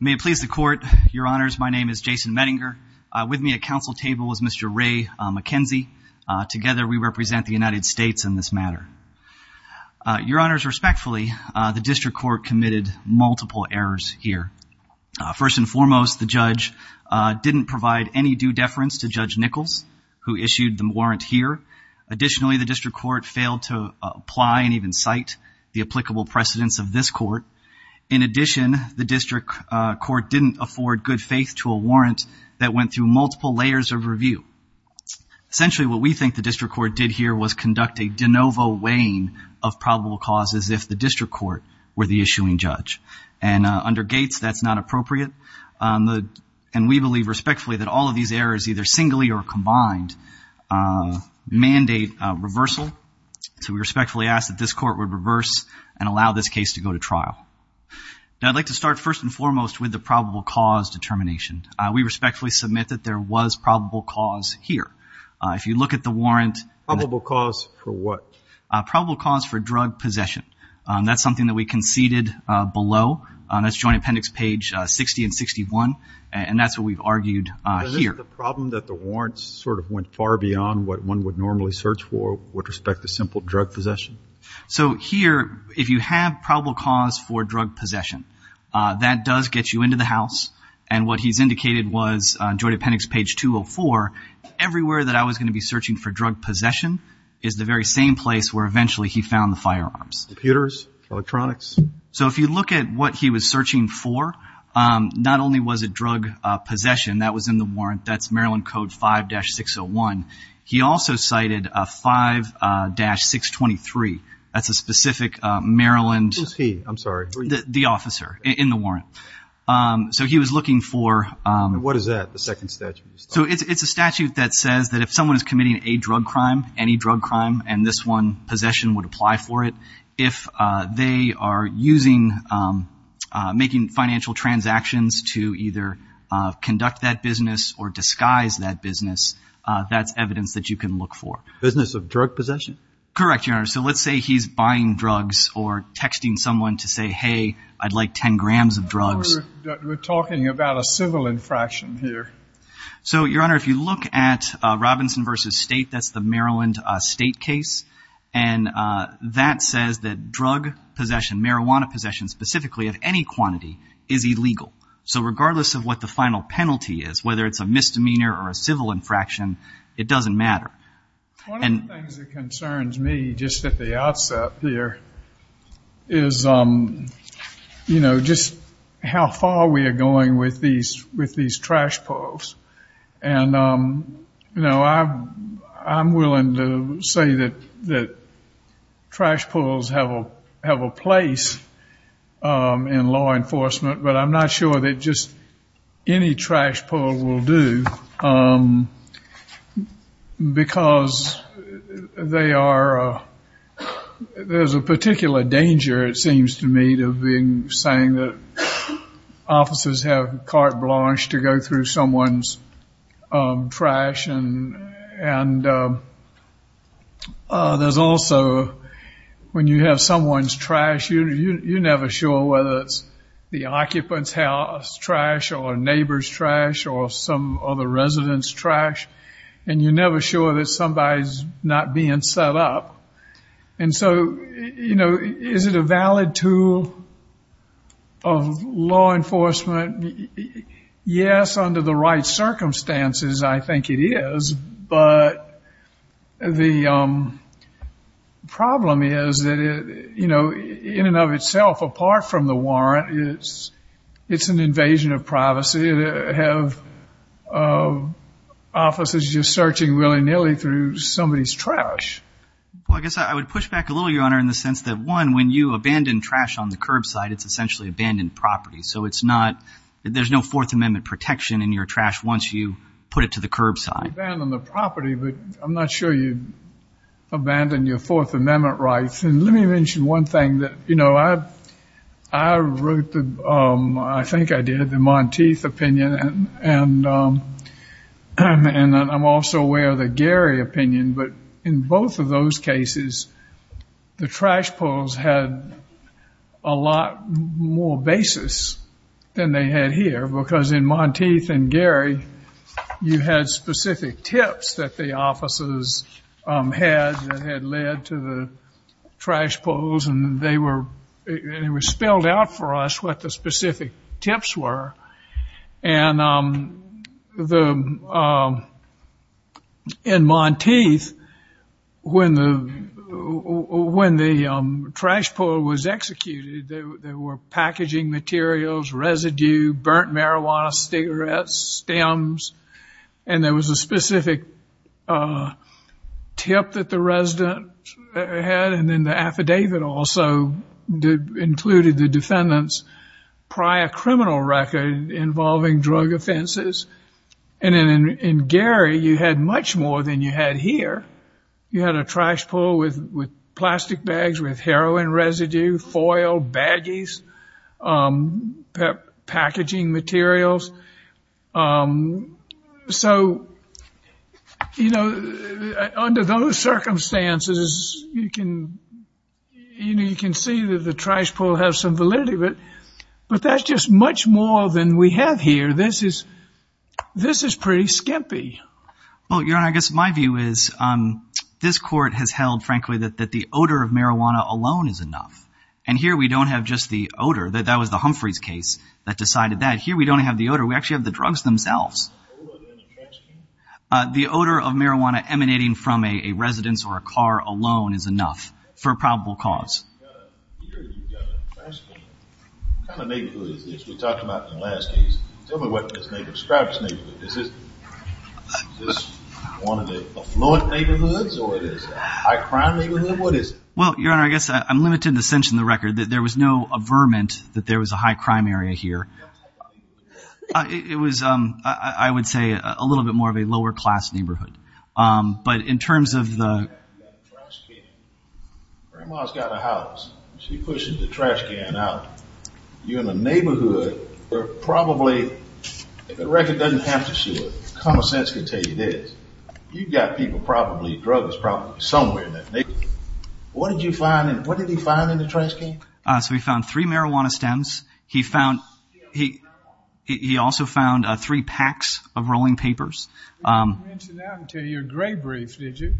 May it please the court, your honors, my name is Jason Mettinger. With me at council table was Mr. Ray McKenzie. Together we represent the United States in this matter. Your honors, respectfully, the district court committed multiple errors here. First and foremost, the judge didn't provide any due deference to Judge Nichols, who issued the warrant here. Additionally, the district court failed to apply and even cite the applicable precedents of this court. In addition, the district court didn't afford good faith to a warrant that went through multiple layers of review. Essentially, what we think the district court did here was conduct a de novo weighing of probable causes if the district court were the issuing judge. And under Gates, that's not appropriate. And we believe respectfully that all of these errors, either singly or combined, mandate reversal. So we respectfully ask that this court would reverse and allow this case to go to trial. Now I'd like to start first and foremost with the probable cause determination. We respectfully submit that there was probable cause here. If you look at the warrant... Probable cause for what? Probable cause for drug possession. That's something that we conceded below. That's Joint Appendix page 60 and 61. And that's what we've argued here. Is this the problem that the warrants sort of went far beyond what one would normally search for with respect to simple drug possession? So here, if you have probable cause for drug possession, that does get you into the house. And what he's indicated was, on Joint Appendix page 204, everywhere that I was going to be searching for drug possession is the very same place where eventually he found the firearms. Computers, electronics. So if you look at what he was searching for, not only was it drug possession that was in the warrant, that's Maryland Code 5-601, he also cited a 5-623 as a specific Maryland... Who's he? I'm sorry. The officer in the warrant. So he was looking for... What is that, the second statute? So it's a statute that says that if someone is committing a drug crime, any drug crime, and this one possession would apply for it, if they are using, making financial transactions to either conduct that business or disguise that business, that's evidence that you can look for. Business of drug possession? Correct, Your Honor. So let's say he's buying drugs or texting someone to say, hey, I'd like 10 grams of drugs. We're talking about a civil infraction here. So, Your Honor, if you look at Robinson v. State, that's the Maryland State case, and that says that drug possession, marijuana possession specifically, of any quantity is illegal. So regardless of what the final penalty is, whether it's a misdemeanor or a civil infraction, it doesn't matter. One of the things that concerns me just at the outset here is, you know, just how far we are going with these trash pulls, and you know, I'm willing to say that trash pulls have a place in law enforcement, but I'm not sure that just any trash pull will do because they are, there's a particular danger, it seems to me, of being saying that officers have carte blanche to go through someone's trash and there's also, when you have someone's trash, you're never sure whether it's the occupant's house trash, or neighbor's trash, or some other resident's trash, and you're never sure that somebody's not being set up. And so, you know, is it a valid tool of law enforcement? Yes, under the right circumstances, I think it is, but the problem is that, you know, in and of itself, apart from the warrant, it's an invasion of privacy to have officers just searching willy-nilly through somebody's trash. Well, I guess I would push back a little, Your Honor, in the sense that, one, when you abandon trash on the curbside, it's essentially abandoned property. So it's not, there's no Fourth Amendment protection in your trash once you put it to the curbside. You abandon the property, but I'm not sure you abandon your Fourth Amendment rights. And let me mention one thing that, you know, I wrote the, I think I did, the Monteith opinion, and I'm also aware of the Gehry opinion, but in both of those cases, the trash poles had a lot more basis than they had here, because in Monteith and Gehry, you had specific tips that the officers had that had led to the arrest, what the specific tips were. And the, in Monteith, when the, when the trash pole was executed, there were packaging materials, residue, burnt marijuana, cigarettes, stems, and there was a specific tip that the resident had, and then the affidavit also included the defendant's prior criminal record involving drug offenses. And then in Gehry, you had much more than you had here. You had a trash pole with, with plastic bags, with heroin residue, foil, baggies, packaging materials. So, you know, under those circumstances, you can, you know, you can see that the trash pole has some validity, but, but that's just much more than we have here. This is, this is pretty skimpy. Well, Your Honor, I guess my view is this court has held, frankly, that, that the odor of marijuana alone is enough. And here, we don't have just the odor. That was the Humphreys case that decided that. Here, we don't have the odor. We actually have the drugs themselves. The odor of marijuana emanating from a residence or a car alone is enough for a probable cause. Well, Your Honor, I guess I'm limited in the sense in the record that there was no averment that there was a high crime area here. It was, um, I would say a little bit more of a lower-class neighborhood. But in terms of the... What did you find? What did he find in the trash can? So, we found three marijuana stems. He found, he, he also found three packs of rolling papers. You didn't mention that until your gray brief, did you?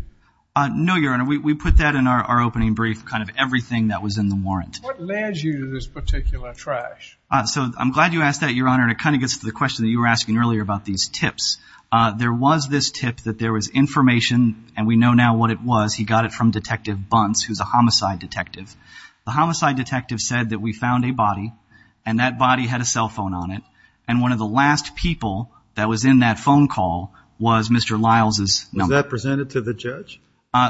No, Your Honor. We put that in our opening brief, kind of everything that was in the warrant. What led you to this particular trash? So, I'm glad you asked that, Your Honor. And it kind of gets to the question that you were asking earlier about these tips. There was this tip that there was information, and we know now what it was. He got it from Detective Bunce, who's a homicide detective. The homicide detective said that we found a body, and that body had a cell phone on it. And one of the last people that was in that phone call was Mr. Lyles' number. Was that presented to the judge?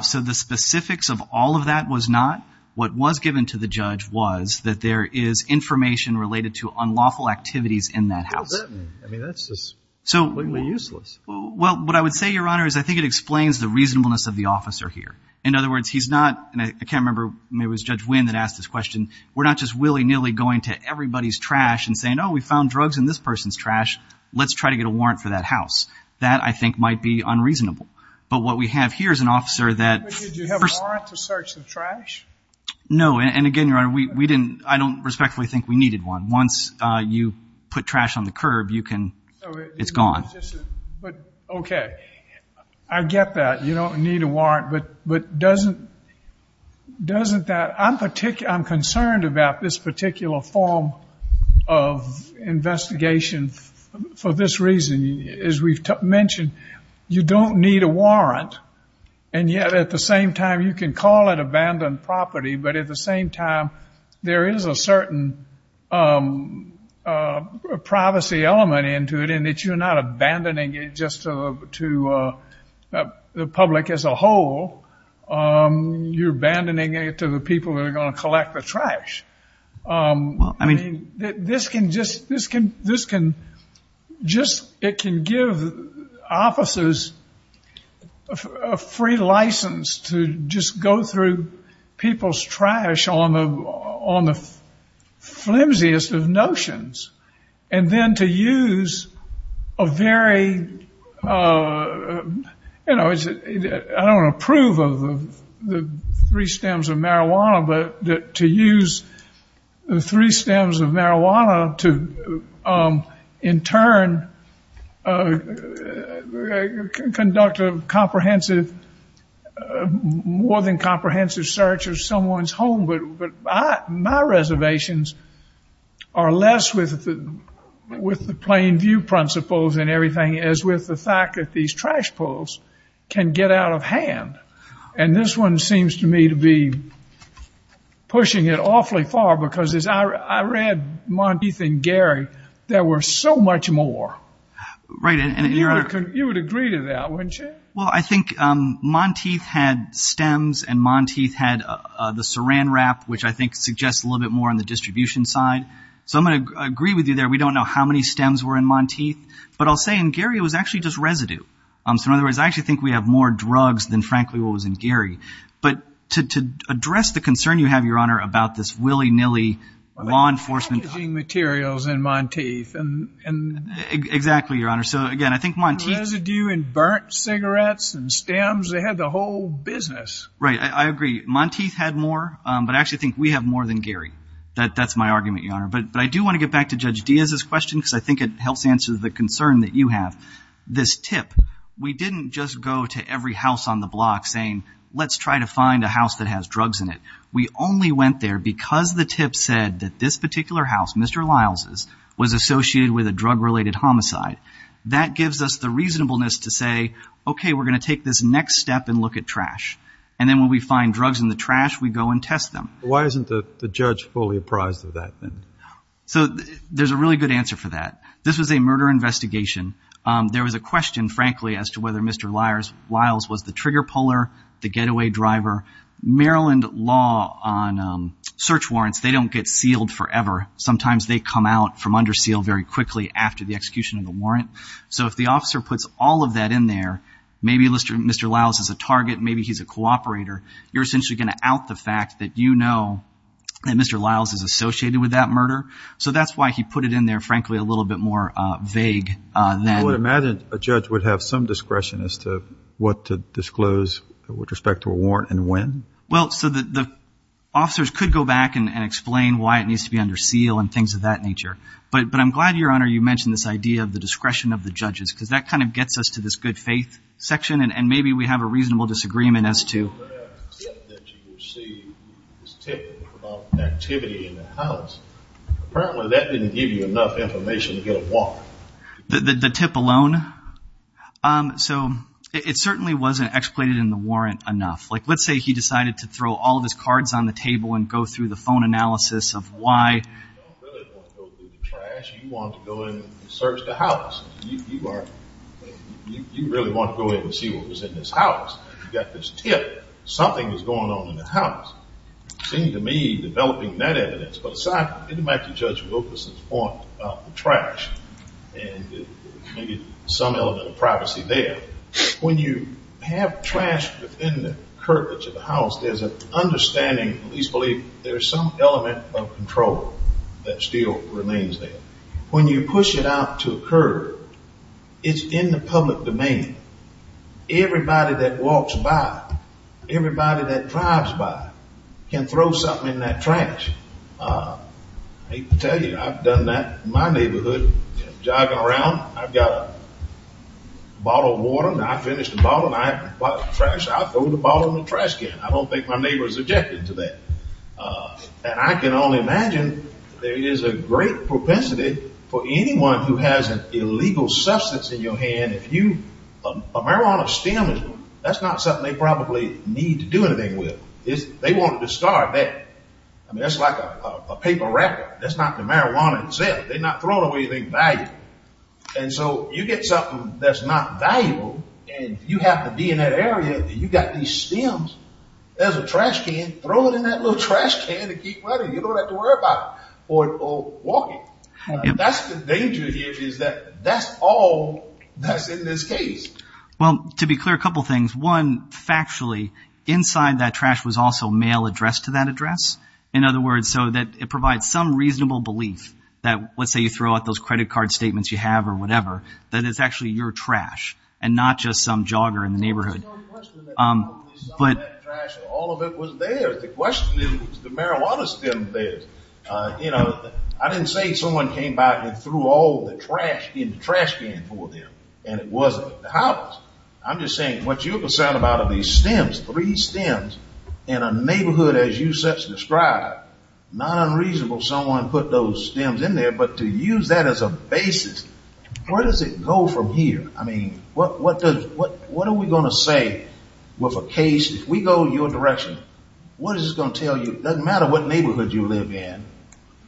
So, the specifics of all of that was not. What was given to the judge was that there is information related to unlawful activities in that house. What does that mean? I mean, that's just completely useless. Well, what I would say, Your Honor, is I think it explains the reasonableness of the officer here. In other words, he's not, and I can't remember, maybe it was Judge Winn that asked this question. We're not just willy-nilly going to everybody's trash and saying, oh, we found drugs in this person's trash. Let's try to get a warrant for that house. That, I think, might be unreasonable. But what we have here is an officer that. Did you have a warrant to search the trash? No, and again, Your Honor, we didn't, I don't respectfully think we needed one. Once you put trash on the curb, you can, it's gone. Okay. I get that. You don't need a warrant. But doesn't that, I'm concerned about this particular form of investigation for this reason. As we've mentioned, you don't need a warrant. And yet, at the same time, you can call it abandoned property. But at the same time, there is a certain privacy element into it, in that you're not abandoning it just to the public as a whole. You're abandoning it to the people that are going to collect the trash. Well, I mean. This can just, it can give officers a free license to just go through people's trash on the flimsiest of notions. And then to use a very, you know, I don't approve of the three stems of marijuana, but to use the three stems of marijuana to, in turn, conduct a comprehensive, more than comprehensive search of someone's home. But my reservations are less with the plain view principles and everything, as with the fact that these trash poles can get out of hand. And this one seems to me to be pushing it awfully far, because as I read Monteith and Gary, there were so much more. Right. And you would agree to that, wouldn't you? Well, I think Monteith had stems, and Monteith had the saran wrap, which I think suggests a little bit more on the distribution side. So I'm going to agree with you there. We don't know how many stems were in Monteith. But I'll say in Gary, it was actually just residue. So, in other words, I actually think we have more drugs than, frankly, what was in Gary. But to address the concern you have, Your Honor, about this willy-nilly law enforcement. Well, they had damaging materials in Monteith. Exactly, Your Honor. So, again, I think Monteith. Residue in burnt cigarettes and stems. They had the whole business. Right. I agree. Monteith had more, but I actually think we have more than Gary. That's my argument, Your Honor. But I do want to get back to Judge Diaz's question, because I think it helps answer the concern that you have. This tip. We didn't just go to every house on the block saying, let's try to find a house that has drugs in it. We only went there because the tip said that this particular house, Mr. Lyles', was associated with a drug-related homicide. That gives us the reasonableness to say, okay, we're going to take this next step and look at trash. And then when we find drugs in the trash, we go and test them. Why isn't the judge fully apprised of that, then? So there's a really good answer for that. This was a murder investigation. There was a question, frankly, as to whether Mr. Lyles was the trigger puller, the getaway driver. Maryland law on search warrants, they don't get sealed forever. Sometimes they come out from under seal very quickly after the execution of the warrant. So if the officer puts all of that in there, maybe Mr. Lyles is a target, maybe he's a cooperator, you're essentially going to out the fact that you know that Mr. Lyles is associated with that murder. So that's why he put it in there, frankly, a little bit more vague than... I would imagine a judge would have some discretion as to what to disclose with respect to a warrant and when? Well, so the officers could go back and explain why it needs to be under seal and things of that nature. But I'm glad, Your Honor, you mentioned this idea of the discretion of the judges because that kind of gets us to this good faith section and maybe we have a reasonable disagreement as to... The tip that you received, this tip about activity in the house, apparently that didn't give you enough information to get a warrant. The tip alone? So it certainly wasn't explained in the warrant enough. Like, let's say he decided to throw all of his cards on the table and go through the phone analysis of why... You don't really want to go through the trash. You want to go in and search the house. You really want to go in and see what was in this house. You've got this tip. Something is going on in the house. It seemed to me developing that evidence put aside, it didn't matter to Judge Wilkerson's point about the trash and maybe some element of privacy there. When you have trash within the curvature of the house, there's an understanding, at least I believe, there's some element of control that still remains there. When you push it out to a curb, it's in the public domain. Everybody that walks by, everybody that drives by, can throw something in that trash. I hate to tell you, I've done that in my neighborhood. Jogging around, I've got a bottle of water, and I finish the bottle, and I have a bottle of trash, I throw the bottle in the trash can. I don't think my neighbors objected to that. And I can only imagine there is a great propensity for anyone who has an illegal substance in your hand, and if you, a marijuana stem, that's not something they probably need to do anything with. They want to discard that. I mean, that's like a paper wrapper. That's not the marijuana itself. They're not throwing away anything valuable. And so you get something that's not valuable, and you have to be in that area. You've got these stems. There's a trash can. Throw it in that little trash can and keep running. You don't have to worry about it or walking. That's the danger here is that that's all that's in this case. Well, to be clear, a couple things. One, factually, inside that trash was also mail addressed to that address. In other words, so that it provides some reasonable belief that, let's say you throw out those credit card statements you have or whatever, that it's actually your trash and not just some jogger in the neighborhood. There's no question that all of that trash, all of it was theirs. The question is, was the marijuana stem theirs? I didn't say someone came by and threw all the trash in the trash can for them, and it wasn't the house. I'm just saying what you're concerned about are these stems, three stems in a neighborhood as you such described. Not unreasonable someone put those stems in there, but to use that as a basis, where does it go from here? I mean, what are we going to say with a case? If we go your direction, what is it going to tell you? It doesn't matter what neighborhood you live in.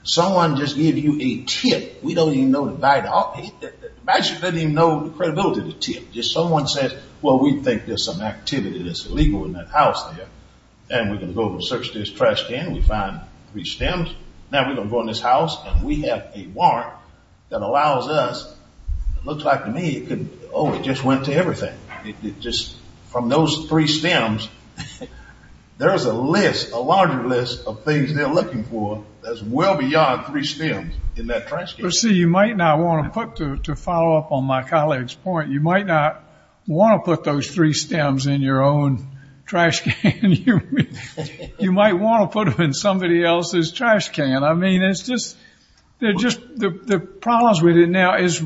Someone just gives you a tip. We don't even know the credibility of the tip. Just someone says, well, we think there's some activity that's illegal in that house there, and we're going to go over and search this trash can. We find three stems. Now we're going to go in this house, and we have a warrant that allows us. It looks like to me, oh, it just went to everything. From those three stems, there's a list, a larger list of things they're looking for that's well beyond three stems in that trash can. See, you might not want to put, to follow up on my colleague's point, you might not want to put those three stems in your own trash can. You might want to put them in somebody else's trash can. I mean, it's just the problems with it now is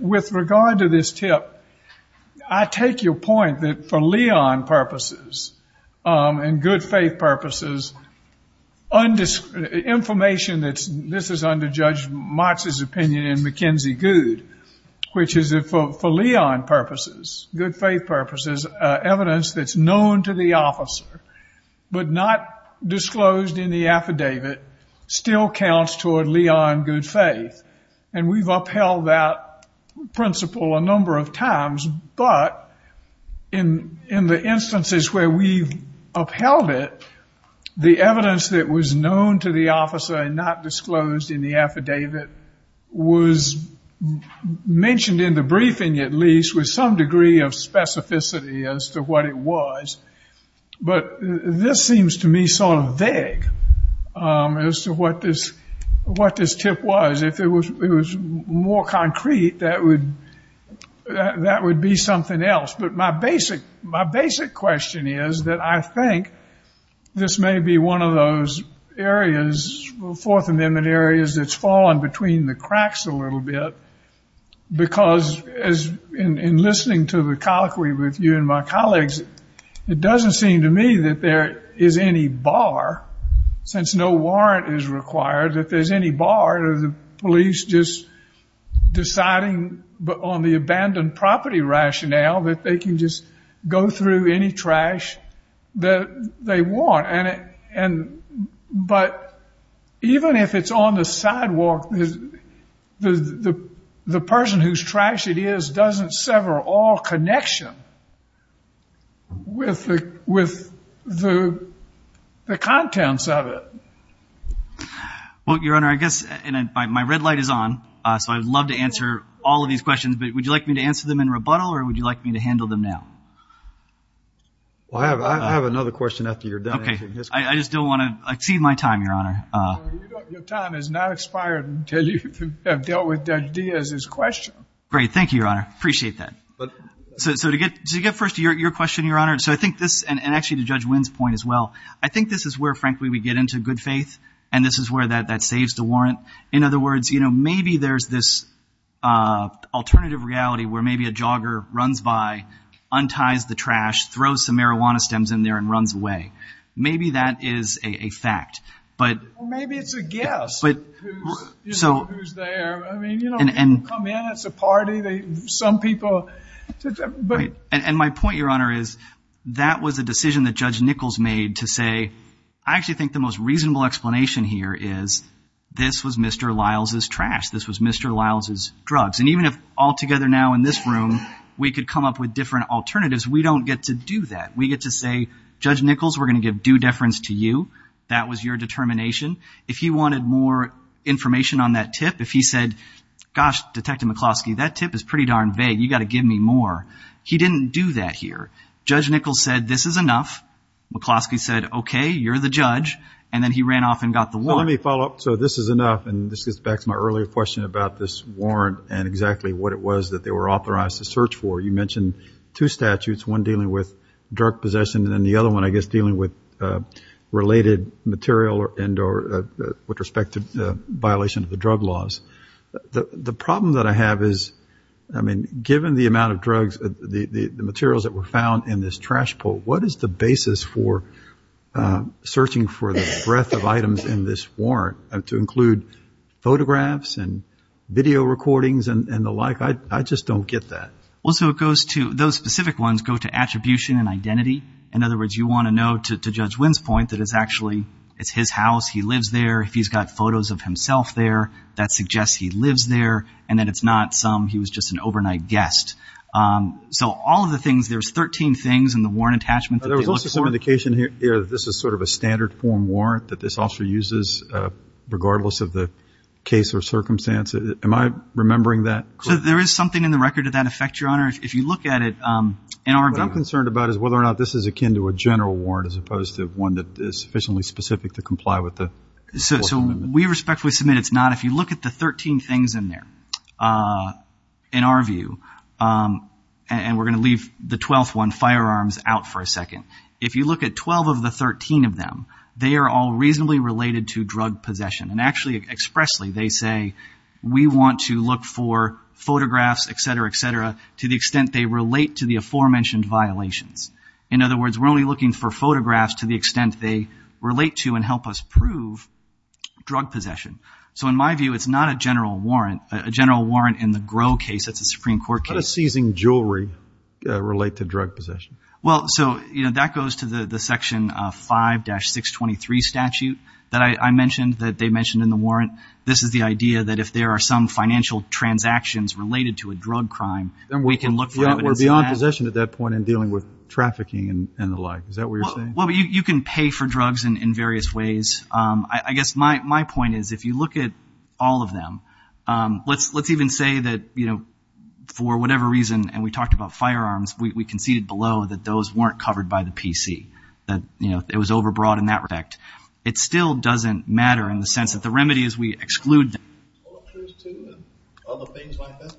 with regard to this tip, I take your point that for Leon purposes and good faith purposes, information that's, this is under Judge Motz's opinion in McKenzie Goode, which is that for Leon purposes, good faith purposes, evidence that's known to the officer but not disclosed in the affidavit still counts toward Leon good faith. And we've upheld that principle a number of times, but in the instances where we've upheld it, the evidence that was known to the officer and not disclosed in the affidavit was mentioned in the briefing at least with some degree of specificity as to what it was. But this seems to me sort of vague as to what this tip was. If it was more concrete, that would be something else. But my basic question is that I think this may be one of those areas, Fourth Amendment areas, that's fallen between the cracks a little bit because in listening to the colloquy with you and my colleagues, it doesn't seem to me that there is any bar, since no warrant is required, or the police just deciding on the abandoned property rationale that they can just go through any trash that they want. But even if it's on the sidewalk, the person whose trash it is doesn't sever all connection with the contents of it. Well, Your Honor, I guess my red light is on, so I would love to answer all of these questions, but would you like me to answer them in rebuttal or would you like me to handle them now? Well, I have another question after you're done. Okay. I just don't want to exceed my time, Your Honor. Your time has not expired until you have dealt with Judge Diaz's question. Great. Thank you, Your Honor. Appreciate that. So to get first to your question, Your Honor, and actually to Judge Wynn's point as well, I think this is where, frankly, we get into good faith, and this is where that saves the warrant. In other words, maybe there's this alternative reality where maybe a jogger runs by, unties the trash, throws some marijuana stems in there, and runs away. Maybe that is a fact. Well, maybe it's a guess who's there. People come in, it's a party. Some people... And my point, Your Honor, is that was a decision that Judge Nichols made to say, I actually think the most reasonable explanation here is this was Mr. Lyles' trash. This was Mr. Lyles' drugs. And even if altogether now in this room we could come up with different alternatives, we don't get to do that. We get to say, Judge Nichols, we're going to give due deference to you. That was your determination. If he wanted more information on that tip, if he said, gosh, Detective McCloskey, that tip is pretty darn vague. You've got to give me more. He didn't do that here. Judge Nichols said, this is enough. McCloskey said, okay, you're the judge. And then he ran off and got the warrant. Well, let me follow up. So this is enough. And this goes back to my earlier question about this warrant and exactly what it was that they were authorized to search for. You mentioned two statutes, one dealing with drug possession and then the other one, I guess, dealing with related material with respect to violation of the drug laws. The problem that I have is, I mean, given the amount of drugs, the materials that were found in this trash pull, what is the basis for searching for the breadth of items in this warrant to include photographs and video recordings and the like? I just don't get that. Well, so it goes to – those specific ones go to attribution and identity. In other words, you want to know, to Judge Winn's point, that it's actually his house, he lives there, if he's got photos of himself there, that suggests he lives there, and that it's not some – he was just an overnight guest. So all of the things, there's 13 things in the warrant attachment. There was also some indication here that this is sort of a standard form warrant that this officer uses regardless of the case or circumstance. Am I remembering that correctly? So there is something in the record of that effect, Your Honor, if you look at it. What I'm concerned about is whether or not this is akin to a general warrant as opposed to one that is sufficiently specific to comply with the Fourth Amendment. So we respectfully submit it's not. If you look at the 13 things in there, in our view, and we're going to leave the 12th one, firearms, out for a second. If you look at 12 of the 13 of them, they are all reasonably related to drug possession. And actually expressly they say we want to look for photographs, et cetera, et cetera, to the extent they relate to the aforementioned violations. In other words, we're only looking for photographs to the extent they relate to and help us prove drug possession. So in my view, it's not a general warrant. A general warrant in the Gros case, that's a Supreme Court case. How does seizing jewelry relate to drug possession? Well, so, you know, that goes to the Section 5-623 statute that I mentioned, that they mentioned in the warrant. This is the idea that if there are some financial transactions related to a drug crime, then we can look for evidence in that. We're beyond possession at that point in dealing with trafficking and the like. Is that what you're saying? Well, you can pay for drugs in various ways. I guess my point is if you look at all of them, let's even say that, you know, for whatever reason, and we talked about firearms, we conceded below that those weren't covered by the PC, that, you know, it was overbroad in that respect. It still doesn't matter in the sense that the remedy is we exclude them. Other things like that?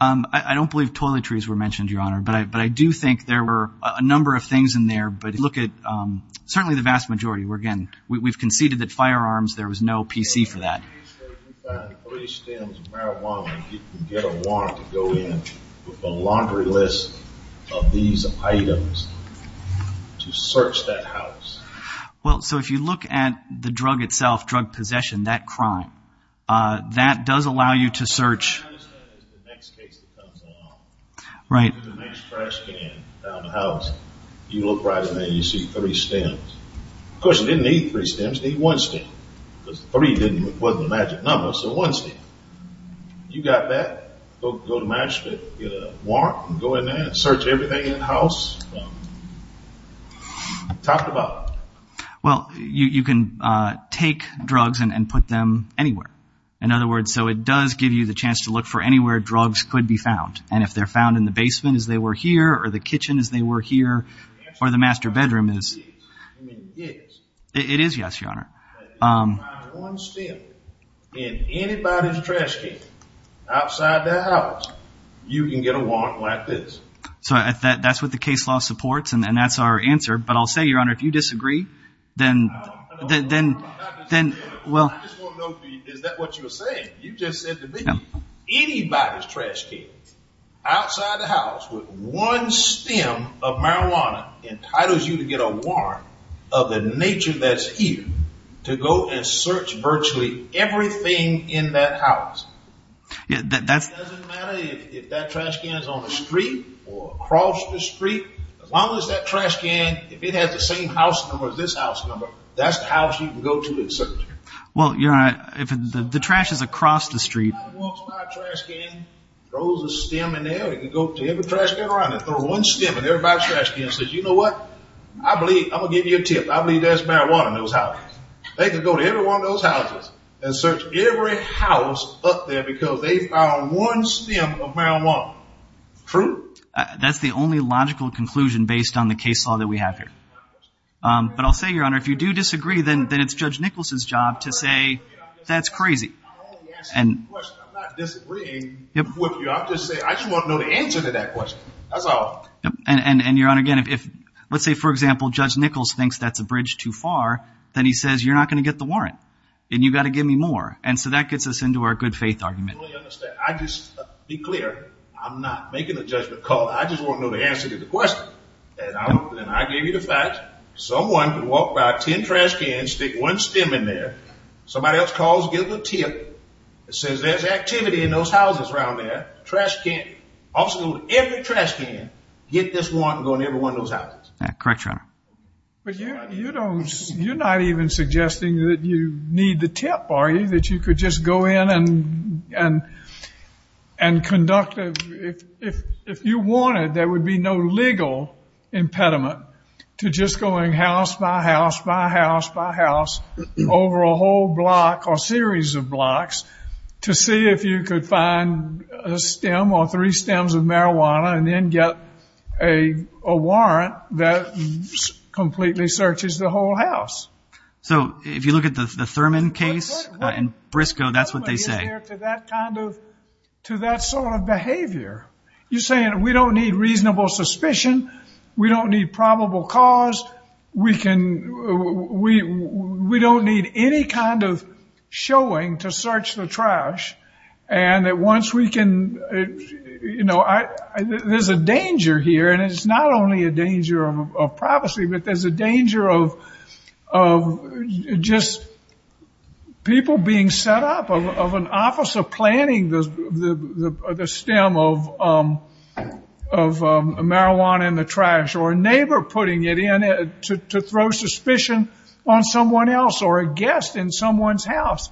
I don't believe toiletries were mentioned, Your Honor, but I do think there were a number of things in there. But look at certainly the vast majority. Again, we've conceded that firearms, there was no PC for that. You found three stems of marijuana. You can get a warrant to go in with a laundry list of these items to search that house. Well, so if you look at the drug itself, drug possession, that crime, that does allow you to search. I understand that's the next case that comes along. Right. The next trash can found in the house, you look right in there and you see three stems. Of course, you didn't need three stems, you need one stem. Because three wasn't a magic number, so one stem. You got that, go to match, get a warrant, go in there, search everything in the house. Talked about it. Well, you can take drugs and put them anywhere. In other words, so it does give you the chance to look for anywhere drugs could be found. And if they're found in the basement as they were here or the kitchen as they were here or the master bedroom is. It is, yes, Your Honor. If you find one stem in anybody's trash can outside their house, you can get a warrant like this. So that's what the case law supports and that's our answer. But I'll say, Your Honor, if you disagree, then well. I just want to know, is that what you were saying? You just said to me, anybody's trash can outside the house with one stem of marijuana entitles you to get a warrant of the nature that's here to go and search virtually everything in that house. It doesn't matter if that trash can is on the street or across the street. As long as that trash can, if it has the same house number as this house number, that's the house you can go to and search. Well, Your Honor, if the trash is across the street. Anybody walks by a trash can, throws a stem in there, they can go to every trash can around there and throw one stem in everybody's trash can and say, you know what, I believe, I'm going to give you a tip, I believe there's marijuana in those houses. They can go to every one of those houses and search every house up there because they found one stem of marijuana. True? That's the only logical conclusion based on the case law that we have here. But I'll say, Your Honor, if you do disagree, then it's Judge Nichols' job to say, that's crazy. I'm not disagreeing with you. I just want to know the answer to that question. That's all. And, Your Honor, again, let's say, for example, Judge Nichols thinks that's a bridge too far, then he says, you're not going to get the warrant and you've got to give me more. And so that gets us into our good faith argument. I just want to be clear. I'm not making a judgment call. I just want to know the answer to the question. And I gave you the facts. Someone can walk by 10 trash cans, stick one stem in there. Somebody else calls and gives a tip and says there's activity in those houses around there. Trash can. Officers go to every trash can, get this warrant and go in every one of those houses. Correct, Your Honor. But you're not even suggesting that you need the tip, are you? That you could just go in and conduct it. If you wanted, there would be no legal impediment to just going house by house by house by house over a whole block or series of blocks to see if you could find a stem or three stems of marijuana and then get a warrant that completely searches the whole house. So if you look at the Thurman case in Briscoe, that's what they say. To that sort of behavior. You're saying we don't need reasonable suspicion. We don't need probable cause. We don't need any kind of showing to search the trash. And that once we can, you know, there's a danger here. And it's not only a danger of privacy, but there's a danger of just people being set up, of an officer planting the stem of marijuana in the trash or a neighbor putting it in to throw suspicion on someone else or a guest in someone's house.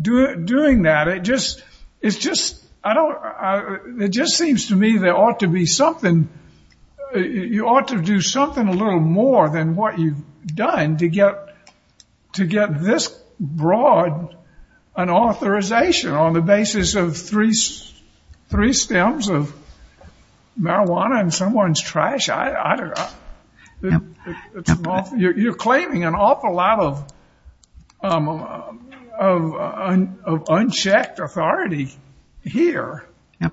Doing that, it just seems to me there ought to be something, you ought to do something a little more than what you've done to get this broad an authorization on the basis of three stems of marijuana in someone's trash. I don't know. You're claiming an awful lot of unchecked authority here.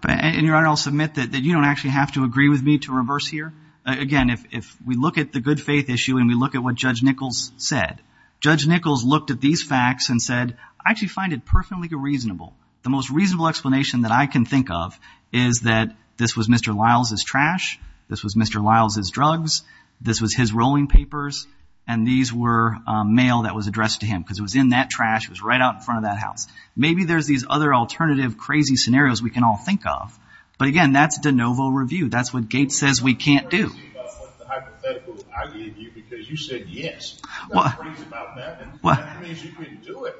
And, Your Honor, I'll submit that you don't actually have to agree with me to reverse here. Again, if we look at the good faith issue and we look at what Judge Nichols said, Judge Nichols looked at these facts and said, I actually find it perfectly reasonable. The most reasonable explanation that I can think of is that this was Mr. Lyles' trash, this was Mr. Lyles' drugs, this was his rolling papers, and these were mail that was addressed to him because it was in that trash, it was right out in front of that house. Maybe there's these other alternative crazy scenarios we can all think of. But, again, that's de novo review. That's what Gates says we can't do. I'm not crazy about the hypothetical I gave you because you said yes. I'm not crazy about that. That means you couldn't do it.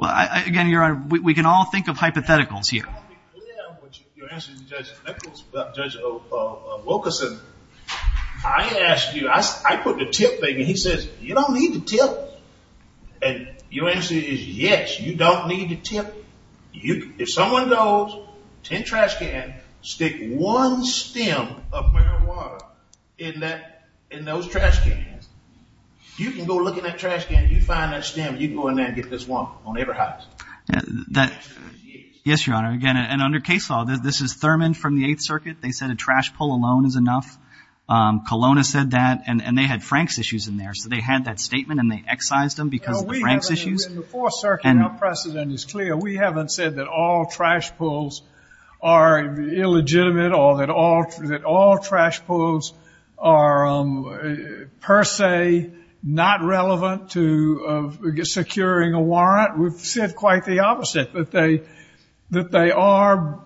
Again, Your Honor, we can all think of hypotheticals here. Your answer to Judge Nichols, Judge Wilkerson, I asked you, I put the tip thing and he says, you don't need the tip. And your answer is yes, you don't need the tip. If someone goes, 10 trash cans, stick one stem of marijuana in those trash cans, you can go look in that trash can, you find that stem, you can go in there and get this one on every house. Yes, Your Honor. Again, and under case law, this is Thurman from the Eighth Circuit. They said a trash pull alone is enough. Kelowna said that. And they had Frank's issues in there. So they had that statement and they excised them because of the Frank's issues. In the Fourth Circuit, our precedent is clear. We haven't said that all trash pulls are illegitimate or that all trash pulls are per se not relevant to securing a warrant. We've said quite the opposite, that they are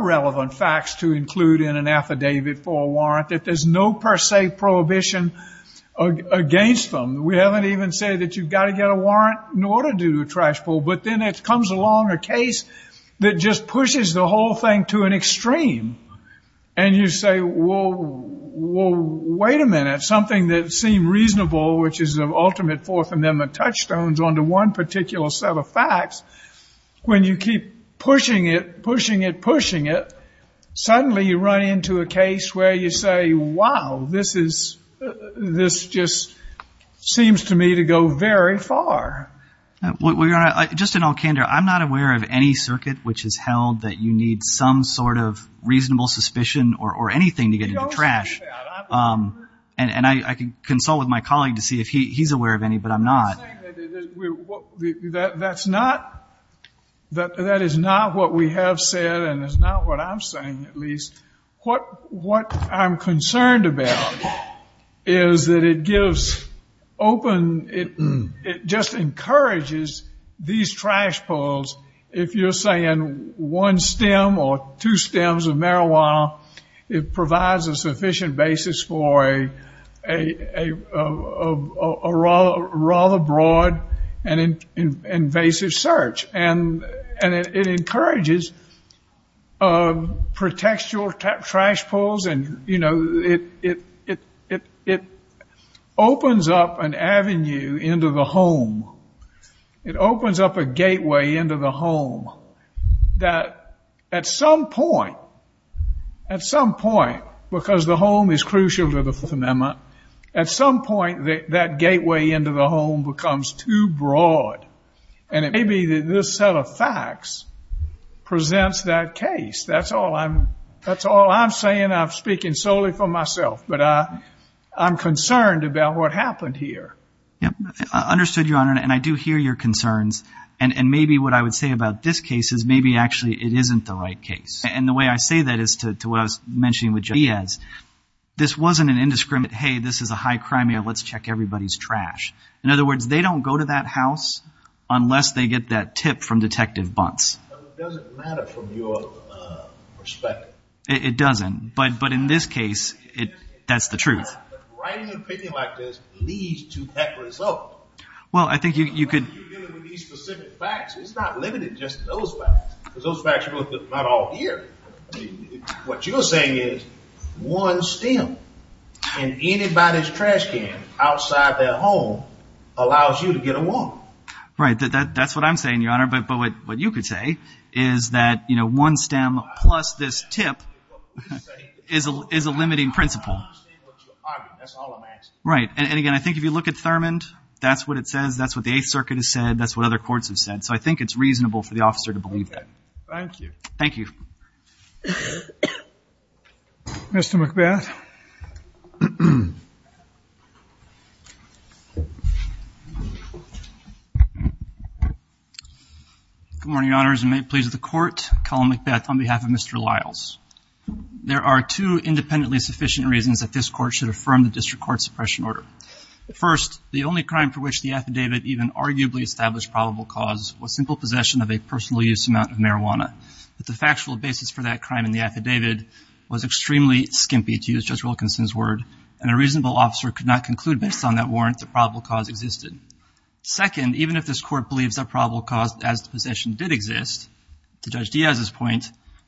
relevant facts to include in an affidavit for a warrant, that there's no per se prohibition against them. We haven't even said that you've got to get a warrant in order to do a trash pull. But then it comes along a case that just pushes the whole thing to an extreme. And you say, well, wait a minute, something that seemed reasonable, which is the ultimate Fourth Amendment touchstones onto one particular set of facts, when you keep pushing it, pushing it, pushing it, suddenly you run into a case where you say, wow, this just seems to me to go very far. Just in all candor, I'm not aware of any circuit which has held that you need some sort of reasonable suspicion or anything to get into trash. And I can consult with my colleague to see if he's aware of any, but I'm not. That's not what we have said, and it's not what I'm saying at least. What I'm concerned about is that it gives open, it just encourages these trash pulls, if you're saying one stem or two stems of marijuana, it provides a sufficient basis for a rather broad and invasive search. And it encourages, protects your trash pulls and, you know, it opens up an avenue into the home. It opens up a gateway into the home that at some point, at some point, because the home is crucial to the Fourth Amendment, at some point that gateway into the home becomes too broad. And it may be that this set of facts presents that case. That's all I'm saying. I'm speaking solely for myself, but I'm concerned about what happened here. I understood, Your Honor, and I do hear your concerns. And maybe what I would say about this case is maybe actually it isn't the right case. And the way I say that is to what I was mentioning with Javier Diaz. This wasn't an indiscriminate, hey, this is a high crime, let's check everybody's trash. In other words, they don't go to that house unless they get that tip from Detective Bunce. It doesn't matter from your perspective. It doesn't. But in this case, that's the truth. Writing an opinion like this leads to that result. Well, I think you could. When you're dealing with these specific facts, it's not limited to just those facts, because those facts are not all here. What you're saying is one stem in anybody's trash can outside their home allows you to get a warrant. Right. That's what I'm saying, Your Honor. But what you could say is that one stem plus this tip is a limiting principle. That's all I'm asking. Right. And, again, I think if you look at Thurmond, that's what it says. That's what the Eighth Circuit has said. That's what other courts have said. So I think it's reasonable for the officer to believe that. Okay. Thank you. Thank you. Mr. McBeth. Good morning, Your Honors. And may it please the Court, Colin McBeth on behalf of Mr. Liles. There are two independently sufficient reasons that this Court should affirm the district court suppression order. First, the only crime for which the affidavit even arguably established probable cause was simple possession of a personal use amount of marijuana. But the factual basis for that crime in the affidavit was extremely skimpy, to use Judge Wilkinson's word, and a reasonable officer could not conclude based on that warrant that probable cause existed. Second, even if this Court believes that probable cause as to possession did exist, to Judge Diaz's point,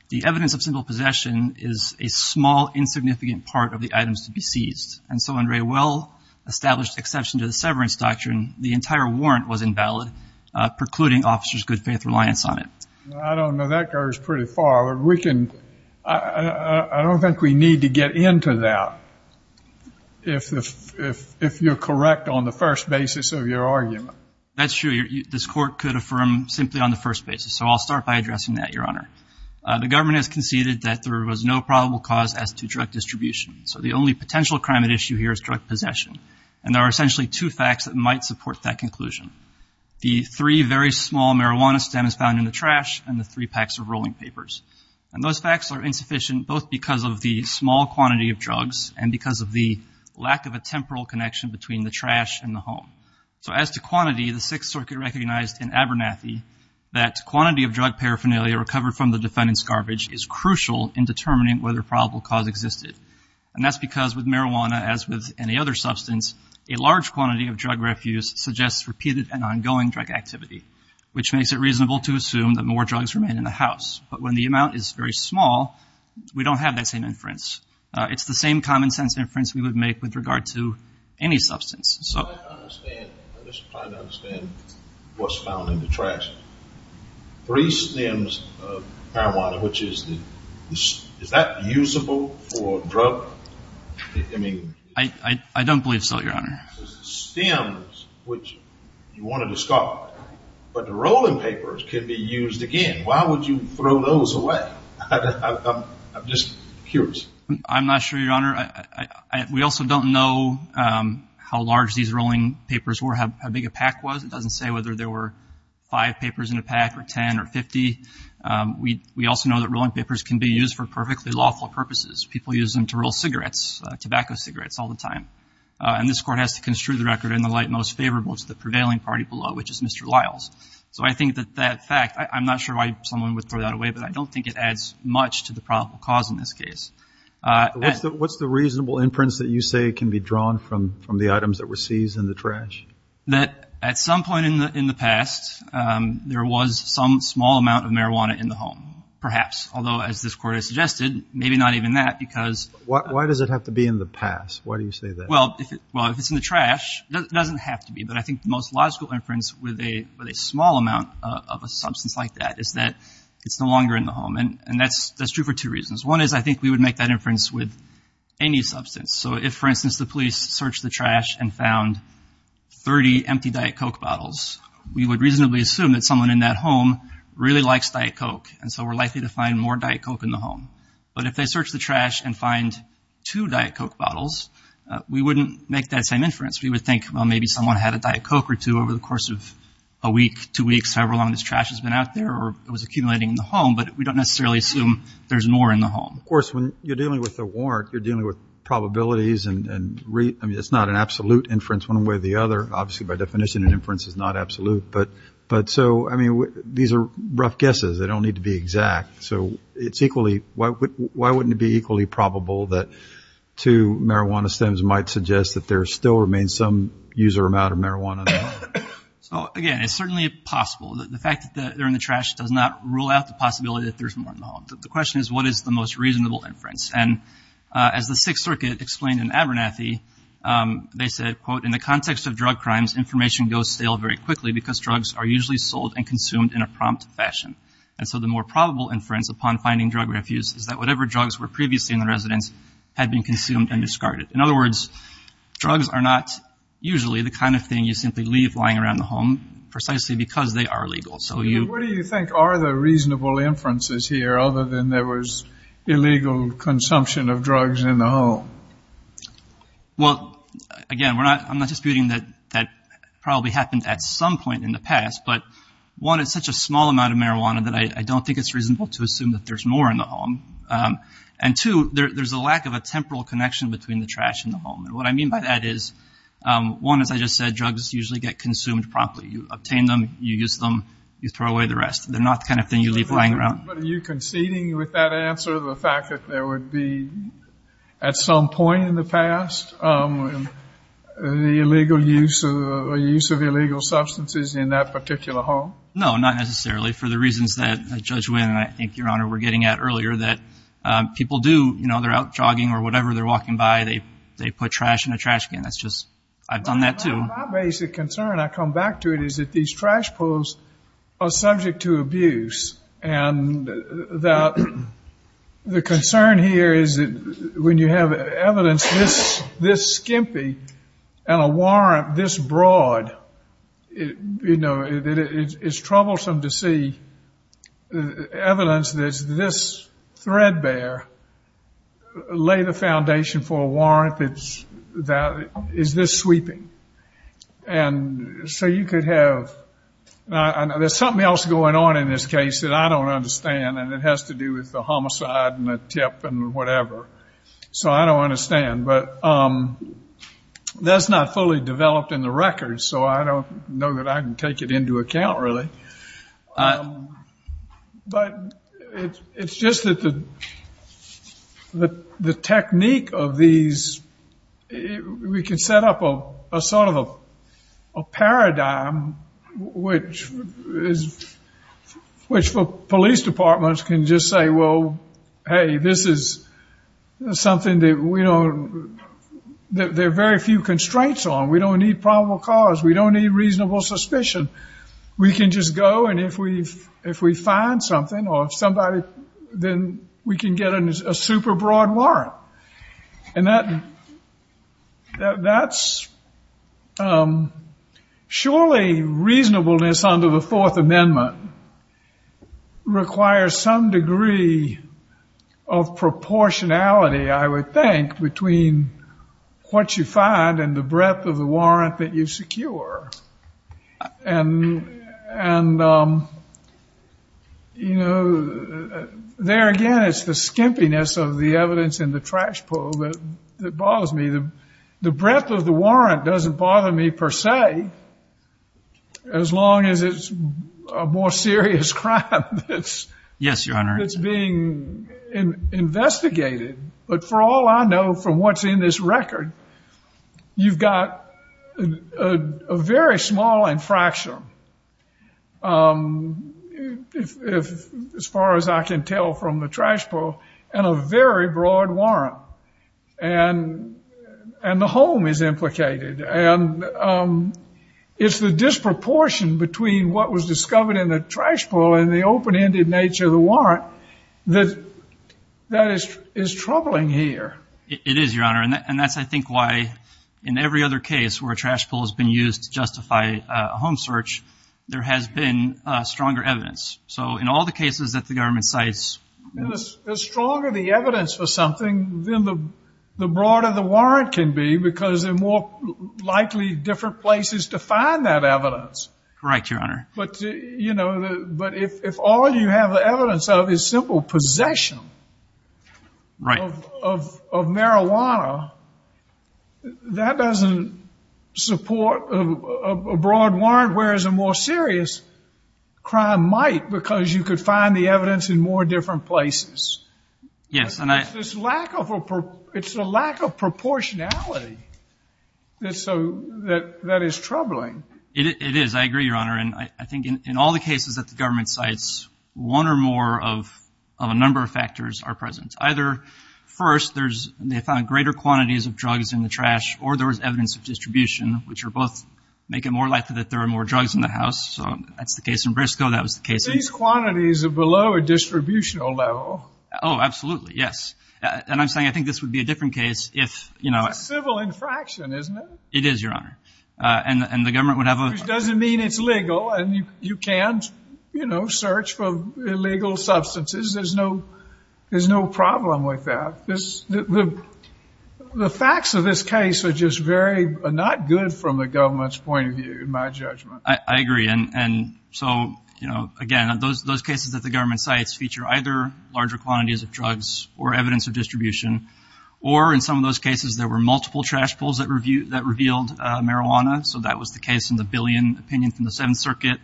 the evidence of simple possession is a small, insignificant part of the items to be seized. And so in a well-established exception to the severance doctrine, the entire warrant was invalid, precluding officers' good faith reliance on it. I don't know. That goes pretty far. I don't think we need to get into that if you're correct on the first basis of your argument. That's true. This Court could affirm simply on the first basis. So I'll start by addressing that, Your Honor. The government has conceded that there was no probable cause as to drug distribution. So the only potential crime at issue here is drug possession. And there are essentially two facts that might support that conclusion. The three very small marijuana stems found in the trash and the three packs of rolling papers. And those facts are insufficient both because of the small quantity of drugs and because of the lack of a temporal connection between the trash and the home. So as to quantity, the Sixth Circuit recognized in Abernathy that quantity of drug paraphernalia recovered from the defendant's garbage is crucial in determining whether probable cause existed. And that's because with marijuana, as with any other substance, a large quantity of drug refuse suggests repeated and ongoing drug activity, which makes it reasonable to assume that more drugs remain in the house. But when the amount is very small, we don't have that same inference. It's the same common-sense inference we would make with regard to any substance. I'm just trying to understand what's found in the trash. I don't believe so, Your Honor. I'm not sure, Your Honor. We also don't know how large these rolling papers were, how big a pack was. It doesn't say whether there were five papers in a pack or 10 or 50. We also know that rolling papers can be used for perfectly lawful purposes. People use them to roll cigarettes, tobacco cigarettes, all the time. And this Court has to construe the record in the light most favorable to the prevailing party below, which is Mr. Lyles. So I think that that fact, I'm not sure why someone would throw that away, but I don't think it adds much to the probable cause in this case. What's the reasonable inference that you say can be drawn from the items that were seized in the trash? That at some point in the past, there was some small amount of marijuana in the home, perhaps. Although, as this Court has suggested, maybe not even that because— Why does it have to be in the past? Why do you say that? Well, if it's in the trash, it doesn't have to be. But I think the most logical inference with a small amount of a substance like that is that it's no longer in the home. And that's true for two reasons. One is I think we would make that inference with any substance. So if, for instance, the police searched the trash and found 30 empty Diet Coke bottles, we would reasonably assume that someone in that home really likes Diet Coke. And so we're likely to find more Diet Coke in the home. But if they search the trash and find two Diet Coke bottles, we wouldn't make that same inference. We would think, well, maybe someone had a Diet Coke or two over the course of a week, two weeks, however long this trash has been out there or it was accumulating in the home. But we don't necessarily assume there's more in the home. Of course, when you're dealing with a warrant, you're dealing with probabilities. I mean, it's not an absolute inference one way or the other. Obviously, by definition, an inference is not absolute. But so, I mean, these are rough guesses. They don't need to be exact. So it's equally, why wouldn't it be equally probable that two marijuana stems might suggest that there still remains some user amount of marijuana? So, again, it's certainly possible. The fact that they're in the trash does not rule out the possibility that there's more in the home. The question is, what is the most reasonable inference? And as the Sixth Circuit explained in Abernathy, they said, quote, In the context of drug crimes, information goes stale very quickly because drugs are usually sold and consumed in a prompt fashion. And so the more probable inference upon finding drug refuse is that whatever drugs were previously in the residence had been consumed and discarded. In other words, drugs are not usually the kind of thing you simply leave lying around the home precisely because they are legal. So you. What do you think are the reasonable inferences here other than there was illegal consumption of drugs in the home? Well, again, I'm not disputing that that probably happened at some point in the past. But one, it's such a small amount of marijuana that I don't think it's reasonable to assume that there's more in the home. And two, there's a lack of a temporal connection between the trash and the home. And what I mean by that is, one, as I just said, drugs usually get consumed promptly. You obtain them. You use them. You throw away the rest. They're not the kind of thing you leave lying around. But are you conceding with that answer, the fact that there would be at some point in the past the illegal use of illegal substances in that particular home? No, not necessarily, for the reasons that Judge Wynn and I think Your Honor were getting at earlier, that people do, you know, they're out jogging or whatever, they're walking by, they put trash in a trash can. That's just, I've done that too. My basic concern, I come back to it, is that these trash poles are subject to abuse. And the concern here is that when you have evidence this skimpy and a warrant this broad, you know, is this sweeping. And so you could have, there's something else going on in this case that I don't understand, and it has to do with the homicide and the tip and whatever. So I don't understand. But that's not fully developed in the records, so I don't know that I can take it into account really. But it's just that the technique of these, we can set up a sort of a paradigm which police departments can just say, well, hey, this is something that we don't, there are very few constraints on. We don't need probable cause. We don't need reasonable suspicion. We can just go, and if we find something or somebody, then we can get a super broad warrant. And that's surely reasonableness under the Fourth Amendment requires some degree of proportionality, I would think, between what you find and the breadth of the warrant that you secure. And, you know, there again it's the skimpiness of the evidence in the trash pull that bothers me. The breadth of the warrant doesn't bother me per se, as long as it's a more serious crime that's being investigated. But for all I know from what's in this record, you've got a very small infraction, as far as I can tell from the trash pull, and a very broad warrant. And the home is implicated. And it's the disproportion between what was discovered in the trash pull and the open-ended nature of the warrant that is troubling here. It is, Your Honor. And that's, I think, why in every other case where a trash pull has been used to justify a home search, there has been stronger evidence. So in all the cases that the government cites... The stronger the evidence for something, then the broader the warrant can be, because there are more likely different places to find that evidence. Correct, Your Honor. But if all you have the evidence of is simple possession of marijuana, that doesn't support a broad warrant, whereas a more serious crime might, because you could find the evidence in more different places. It's the lack of proportionality that is troubling. It is. I agree, Your Honor. And I think in all the cases that the government cites, one or more of a number of factors are present. Either, first, they found greater quantities of drugs in the trash, or there was evidence of distribution, which are both making it more likely that there are more drugs in the house. So that's the case in Briscoe. That was the case in... These quantities are below a distributional level. Oh, absolutely, yes. And I'm saying I think this would be a different case if... It's a civil infraction, isn't it? It is, Your Honor. Which doesn't mean it's legal, and you can't, you know, search for illegal substances. There's no problem with that. The facts of this case are just very not good from the government's point of view, in my judgment. I agree. And so, you know, again, those cases that the government cites feature either larger quantities of drugs or evidence of distribution, or in some of those cases, there were multiple trash pulls that revealed marijuana. So that was the case in the Billion opinion from the Seventh Circuit.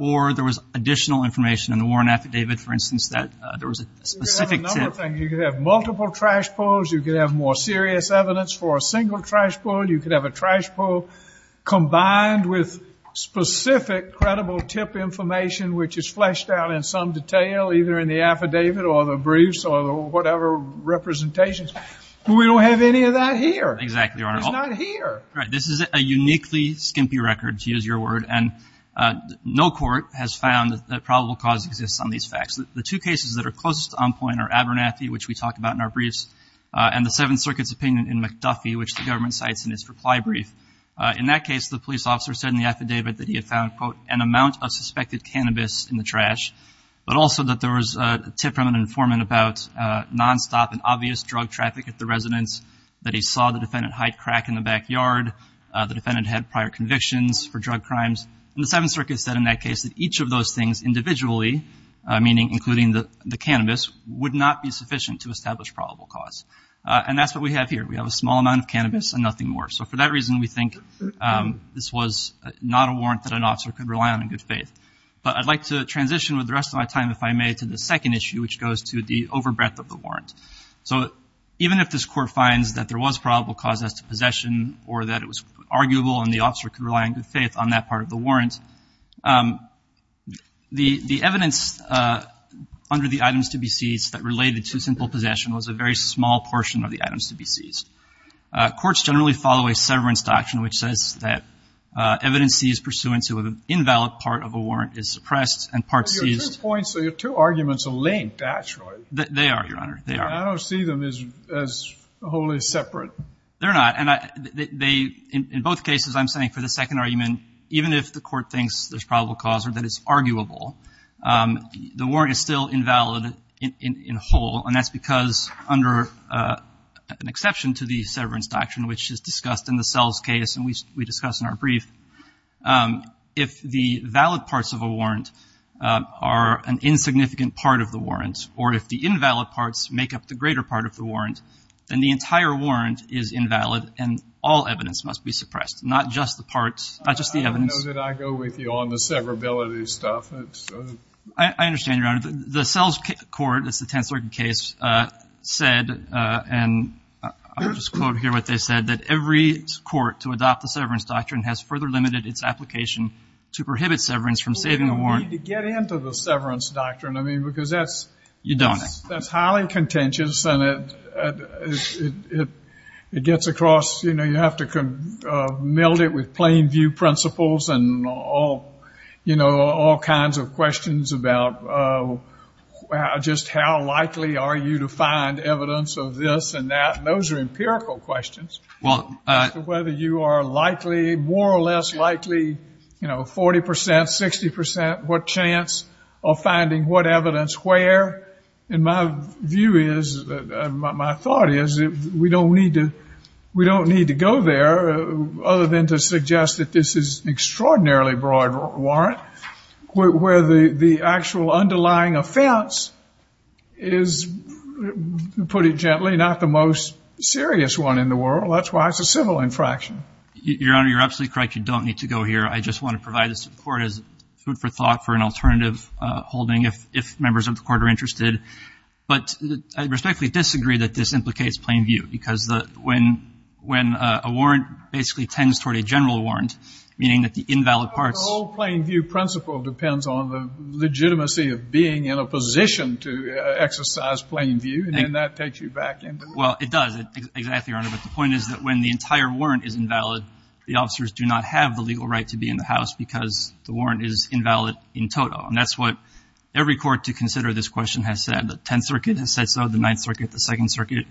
Or there was additional information in the Warren Affidavit, for instance, that there was a specific tip. You could have a number of things. You could have multiple trash pulls. You could have more serious evidence for a single trash pull. You could have a trash pull combined with specific credible tip information, which is fleshed out in some detail, either in the affidavit or the briefs or whatever representations. We don't have any of that here. Exactly, Your Honor. It's not here. Right. This is a uniquely skimpy record, to use your word. And no court has found that probable cause exists on these facts. The two cases that are closest to on point are Abernathy, which we talk about in our briefs, and the Seventh Circuit's opinion in McDuffie, which the government cites in its reply brief. In that case, the police officer said in the affidavit that he had found, quote, an amount of suspected cannabis in the trash, but also that there was a tip from an informant about nonstop and obvious drug traffic at the residence, that he saw the defendant hide crack in the backyard, the defendant had prior convictions for drug crimes. And the Seventh Circuit said in that case that each of those things individually, meaning including the cannabis, would not be sufficient to establish probable cause. And that's what we have here. We have a small amount of cannabis and nothing more. So for that reason, we think this was not a warrant that an officer could rely on in good faith. But I'd like to transition with the rest of my time, if I may, to the second issue, which goes to the overbreadth of the warrant. So even if this court finds that there was probable cause as to possession or that it was arguable and the officer could rely on good faith on that part of the warrant, the evidence under the items to be seized that related to simple possession was a very small portion of the items to be seized. Courts generally follow a severance doctrine, which says that evidence seized pursuant to an invalid part of a warrant is suppressed and parts seized. Your two arguments are linked, actually. They are, Your Honor. I don't see them as wholly separate. They're not. And in both cases, I'm saying for the second argument, even if the court thinks there's probable cause or that it's arguable, the warrant is still invalid in whole. And that's because under an exception to the severance doctrine, which is discussed in the Sells case and we discuss in our brief, if the valid parts of a warrant are an insignificant part of the warrant, or if the invalid parts make up the greater part of the warrant, then the entire warrant is invalid and all evidence must be suppressed, not just the parts, not just the evidence. I know that I go with you on the severability stuff. I understand, Your Honor. The Sells court, that's the 10th Circuit case, said, and I'll just quote here what they said, that every court to adopt the severance doctrine has further limited its application to prohibit severance from saving a warrant. Well, you don't need to get into the severance doctrine. I mean, because that's. You don't. That's highly contentious and it gets across. You know, you have to meld it with plain view principles and all, you know, all kinds of questions about just how likely are you to find evidence of this and that. And those are empirical questions as to whether you are likely, more or less likely, you know, 40 percent, 60 percent, what chance of finding what evidence where. And my view is, my thought is, we don't need to go there other than to suggest that this is an extraordinarily broad warrant where the actual underlying offense is, to put it gently, not the most serious one in the world. That's why it's a civil infraction. Your Honor, you're absolutely correct. You don't need to go here. I just want to provide the support as food for thought for an alternative holding if members of the court are interested. But I respectfully disagree that this implicates plain view because when a warrant basically tends toward a general warrant, meaning that the invalid parts. The whole plain view principle depends on the legitimacy of being in a position to exercise plain view, and then that takes you back into. Well, it does, exactly, Your Honor. But the point is that when the entire warrant is invalid, the officers do not have the legal right to be in the house because the warrant is invalid in total. And that's what every court to consider this question has said. The Tenth Circuit has said so, the Ninth Circuit, the Second Circuit,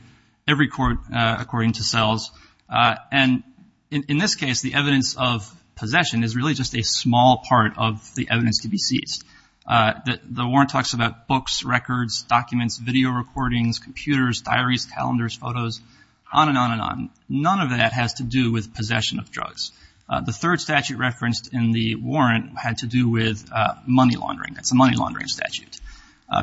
every court according to cells. And in this case, the evidence of possession is really just a small part of the evidence to be seized. The warrant talks about books, records, documents, video recordings, computers, diaries, calendars, photos, on and on and on. None of that has to do with possession of drugs. The third statute referenced in the warrant had to do with money laundering. It's a money laundering statute.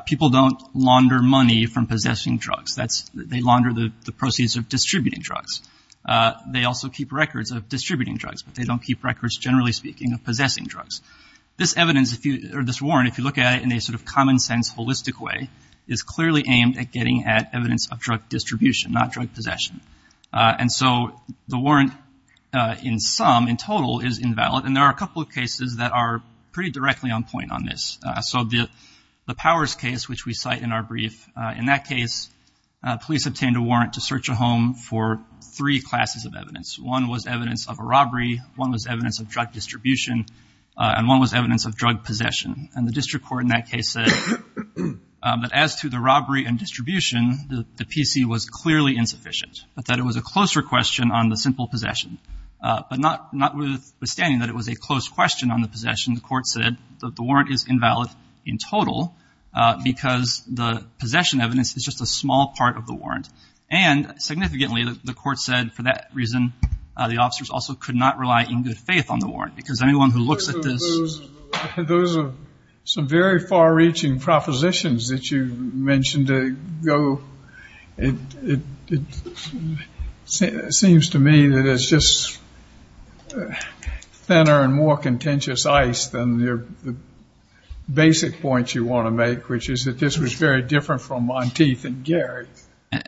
People don't launder money from possessing drugs. They launder the proceeds of distributing drugs. They also keep records of distributing drugs, but they don't keep records, generally speaking, of possessing drugs. This evidence, or this warrant, if you look at it in a sort of common sense, holistic way, is clearly aimed at getting at evidence of drug distribution, not drug possession. And so the warrant in sum, in total, is invalid. And there are a couple of cases that are pretty directly on point on this. So the Powers case, which we cite in our brief, in that case, police obtained a warrant to search a home for three classes of evidence. One was evidence of a robbery, one was evidence of drug distribution, and one was evidence of drug possession. And the district court in that case said that as to the robbery and distribution, the PC was clearly insufficient, but that it was a closer question on the simple possession. But notwithstanding that it was a close question on the possession, the court said that the warrant is invalid in total because the possession evidence is just a small part of the warrant. And significantly, the court said, for that reason, the officers also could not rely in good faith on the warrant because anyone who looks at this... Those are some very far-reaching propositions that you mentioned ago. It seems to me that it's just thinner and more contentious ice than the basic point you want to make, which is that this was very different from Monteith and Gary.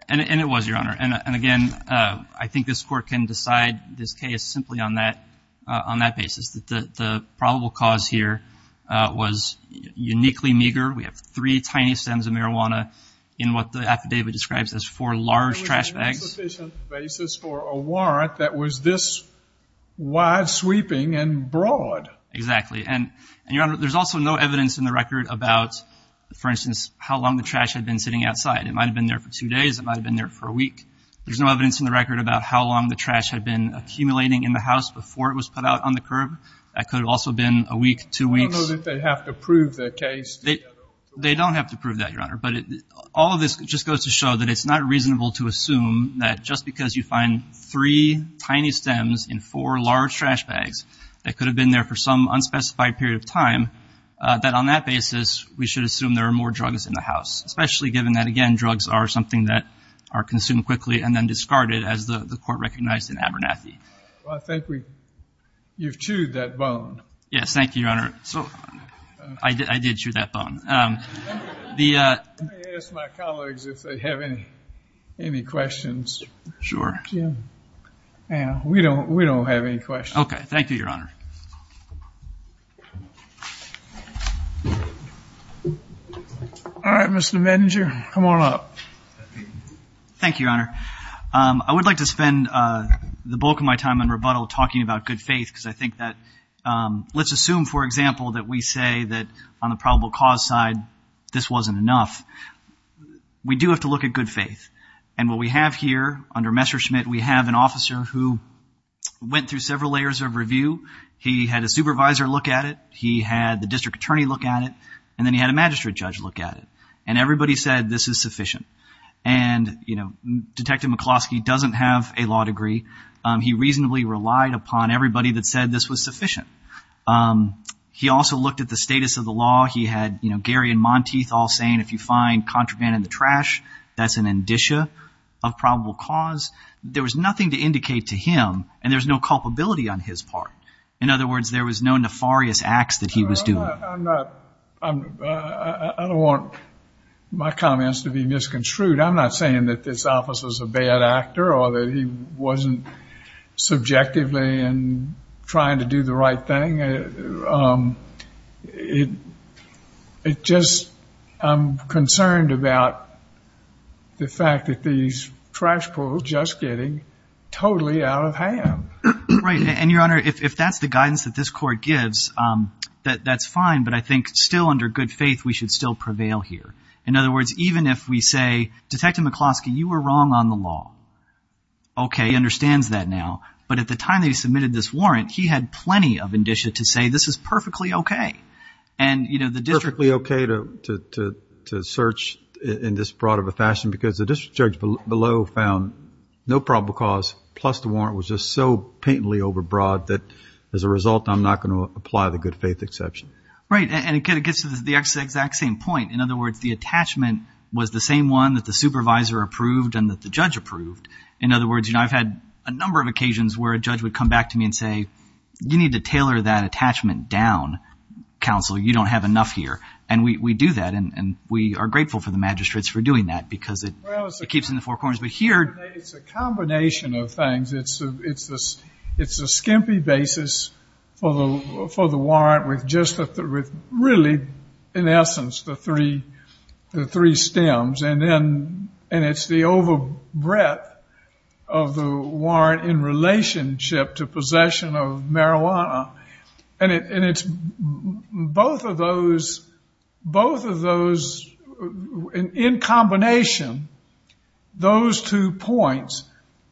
And it was, Your Honor. And again, I think this court can decide this case simply on that basis, that the probable cause here was uniquely meager. We have three tiny stems of marijuana in what the affidavit describes as four large trash bags. It was an insufficient basis for a warrant that was this wide-sweeping and broad. Exactly. And, Your Honor, there's also no evidence in the record about, for instance, how long the trash had been sitting outside. It might have been there for two days. It might have been there for a week. There's no evidence in the record about how long the trash had been accumulating in the house before it was put out on the curb. That could have also been a week, two weeks. I don't know that they have to prove their case. They don't have to prove that, Your Honor. But all of this just goes to show that it's not reasonable to assume that just because you find three tiny stems in four large trash bags that could have been there for some unspecified period of time, that on that basis we should assume there are more drugs in the house, especially given that, again, drugs are something that are consumed quickly and then discarded as the court recognized in Abernathy. Well, I think you've chewed that bone. Yes. Thank you, Your Honor. I did chew that bone. Let me ask my colleagues if they have any questions. Sure. We don't have any questions. Okay. Thank you, Your Honor. All right, Mr. Medinger, come on up. Thank you, Your Honor. I would like to spend the bulk of my time in rebuttal talking about good faith because I think that let's assume, for example, that we say that on the probable cause side this wasn't enough. We do have to look at good faith. And what we have here under Messerschmitt, we have an officer who went through several layers of review. He had a supervisor look at it. He had the district attorney look at it. And then he had a magistrate judge look at it. And everybody said this is sufficient. And, you know, Detective McCloskey doesn't have a law degree. He reasonably relied upon everybody that said this was sufficient. He also looked at the status of the law. He had, you know, Gary and Monteith all saying if you find contraband in the trash, that's an indicia of probable cause. There was nothing to indicate to him. And there's no culpability on his part. In other words, there was no nefarious acts that he was doing. I don't want my comments to be misconstrued. I'm not saying that this officer is a bad actor or that he wasn't subjectively trying to do the right thing. It's just I'm concerned about the fact that these trash poles are just getting totally out of hand. Right. And, Your Honor, if that's the guidance that this court gives, that's fine. But I think still under good faith, we should still prevail here. In other words, even if we say, Detective McCloskey, you were wrong on the law. Okay. He understands that now. But at the time that he submitted this warrant, he had plenty of indicia to say this is perfectly okay. Perfectly okay to search in this broad of a fashion because the district judge below found no probable cause, plus the warrant was just so patently overbroad that as a result, I'm not going to apply the good faith exception. Right. And it gets to the exact same point. In other words, the attachment was the same one that the supervisor approved and that the judge approved. In other words, I've had a number of occasions where a judge would come back to me and say, you need to tailor that attachment down, counsel. You don't have enough here. And we do that. And we are grateful for the magistrates for doing that because it keeps in the four corners. But here. It's a combination of things. It's a skimpy basis for the warrant with really, in essence, the three stems. And it's the overbreadth of the warrant in relationship to possession of marijuana. And it's both of those in combination, those two points,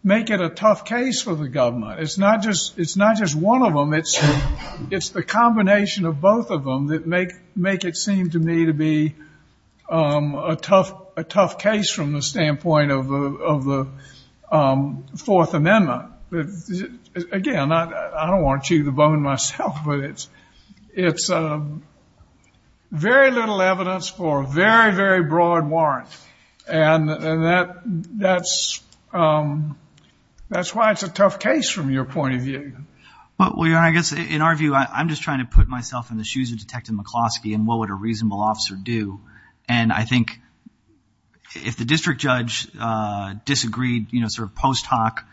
make it a tough case for the government. It's not just one of them. It's the combination of both of them that make it seem to me to be a tough case from the standpoint of the Fourth Amendment. Again, I don't want to chew the bone myself, but it's very little evidence for a very, very broad warrant. And that's why it's a tough case from your point of view. Well, your Honor, I guess in our view, I'm just trying to put myself in the shoes of Detective McCloskey and what would a reasonable officer do. And I think if the district judge disagreed, you know, sort of post hoc,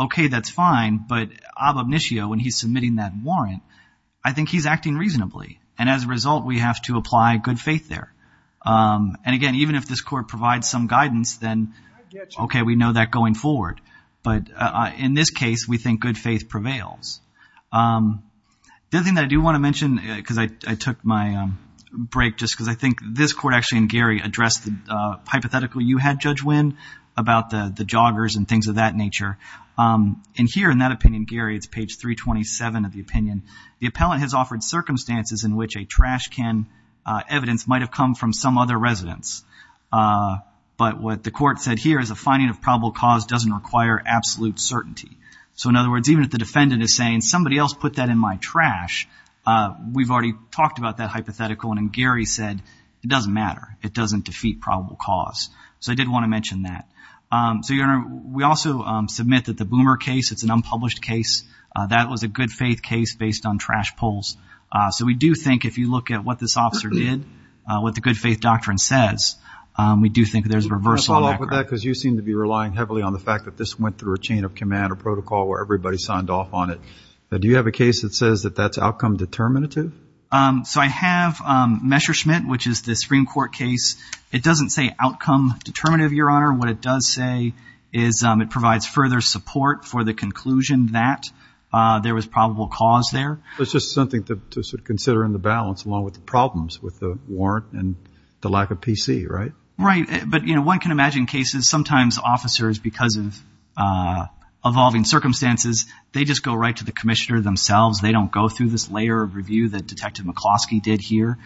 okay, that's fine. But ab obitio, when he's submitting that warrant, I think he's acting reasonably. And as a result, we have to apply good faith there. And, again, even if this court provides some guidance, then, okay, we know that going forward. But in this case, we think good faith prevails. The other thing that I do want to mention, because I took my break just because I think this court actually and Gary addressed the hypothetical you had, Judge Winn, about the joggers and things of that nature. And here in that opinion, Gary, it's page 327 of the opinion, the appellant has offered circumstances in which a trash can evidence might have come from some other residence. But what the court said here is a finding of probable cause doesn't require absolute certainty. So, in other words, even if the defendant is saying somebody else put that in my trash, we've already talked about that hypothetical. And Gary said it doesn't matter. It doesn't defeat probable cause. So I did want to mention that. So, Your Honor, we also submit that the Boomer case, it's an unpublished case. That was a good faith case based on trash pulls. So we do think if you look at what this officer did, what the good faith doctrine says, we do think there's a reversal in that. Can I follow up with that? Because you seem to be relying heavily on the fact that this went through a chain of command or protocol where everybody signed off on it. Do you have a case that says that that's outcome determinative? So I have Messerschmitt, which is the Supreme Court case. It doesn't say outcome determinative, Your Honor. What it does say is it provides further support for the conclusion that there was probable cause there. It's just something to consider in the balance along with the problems with the warrant and the lack of PC, right? Right. But, you know, one can imagine cases sometimes officers, because of evolving circumstances, they just go right to the commissioner themselves. They don't go through this layer of review that Detective McCloskey did here.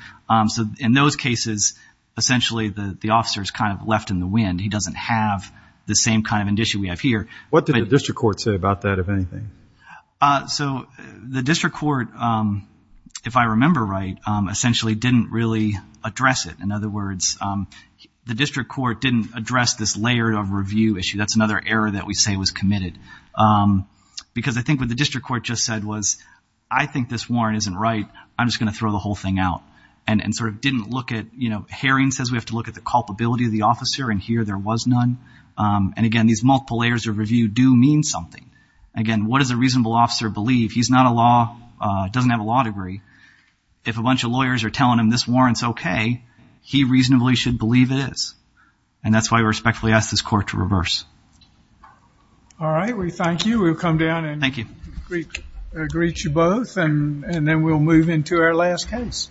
So in those cases, essentially the officer is kind of left in the wind. He doesn't have the same kind of indicia we have here. What did the district court say about that, if anything? So the district court, if I remember right, essentially didn't really address it. In other words, the district court didn't address this layer of review issue. That's another error that we say was committed because I think what the district court just said was, I think this warrant isn't right. I'm just going to throw the whole thing out and sort of didn't look at, you know, Herring says we have to look at the culpability of the officer, and here there was none. And, again, these multiple layers of review do mean something. Again, what does a reasonable officer believe? He's not a law, doesn't have a law degree. If a bunch of lawyers are telling him this warrant's okay, he reasonably should believe it is. And that's why we respectfully ask this court to reverse. All right, we thank you. We'll come down and greet you both, and then we'll move into our last case.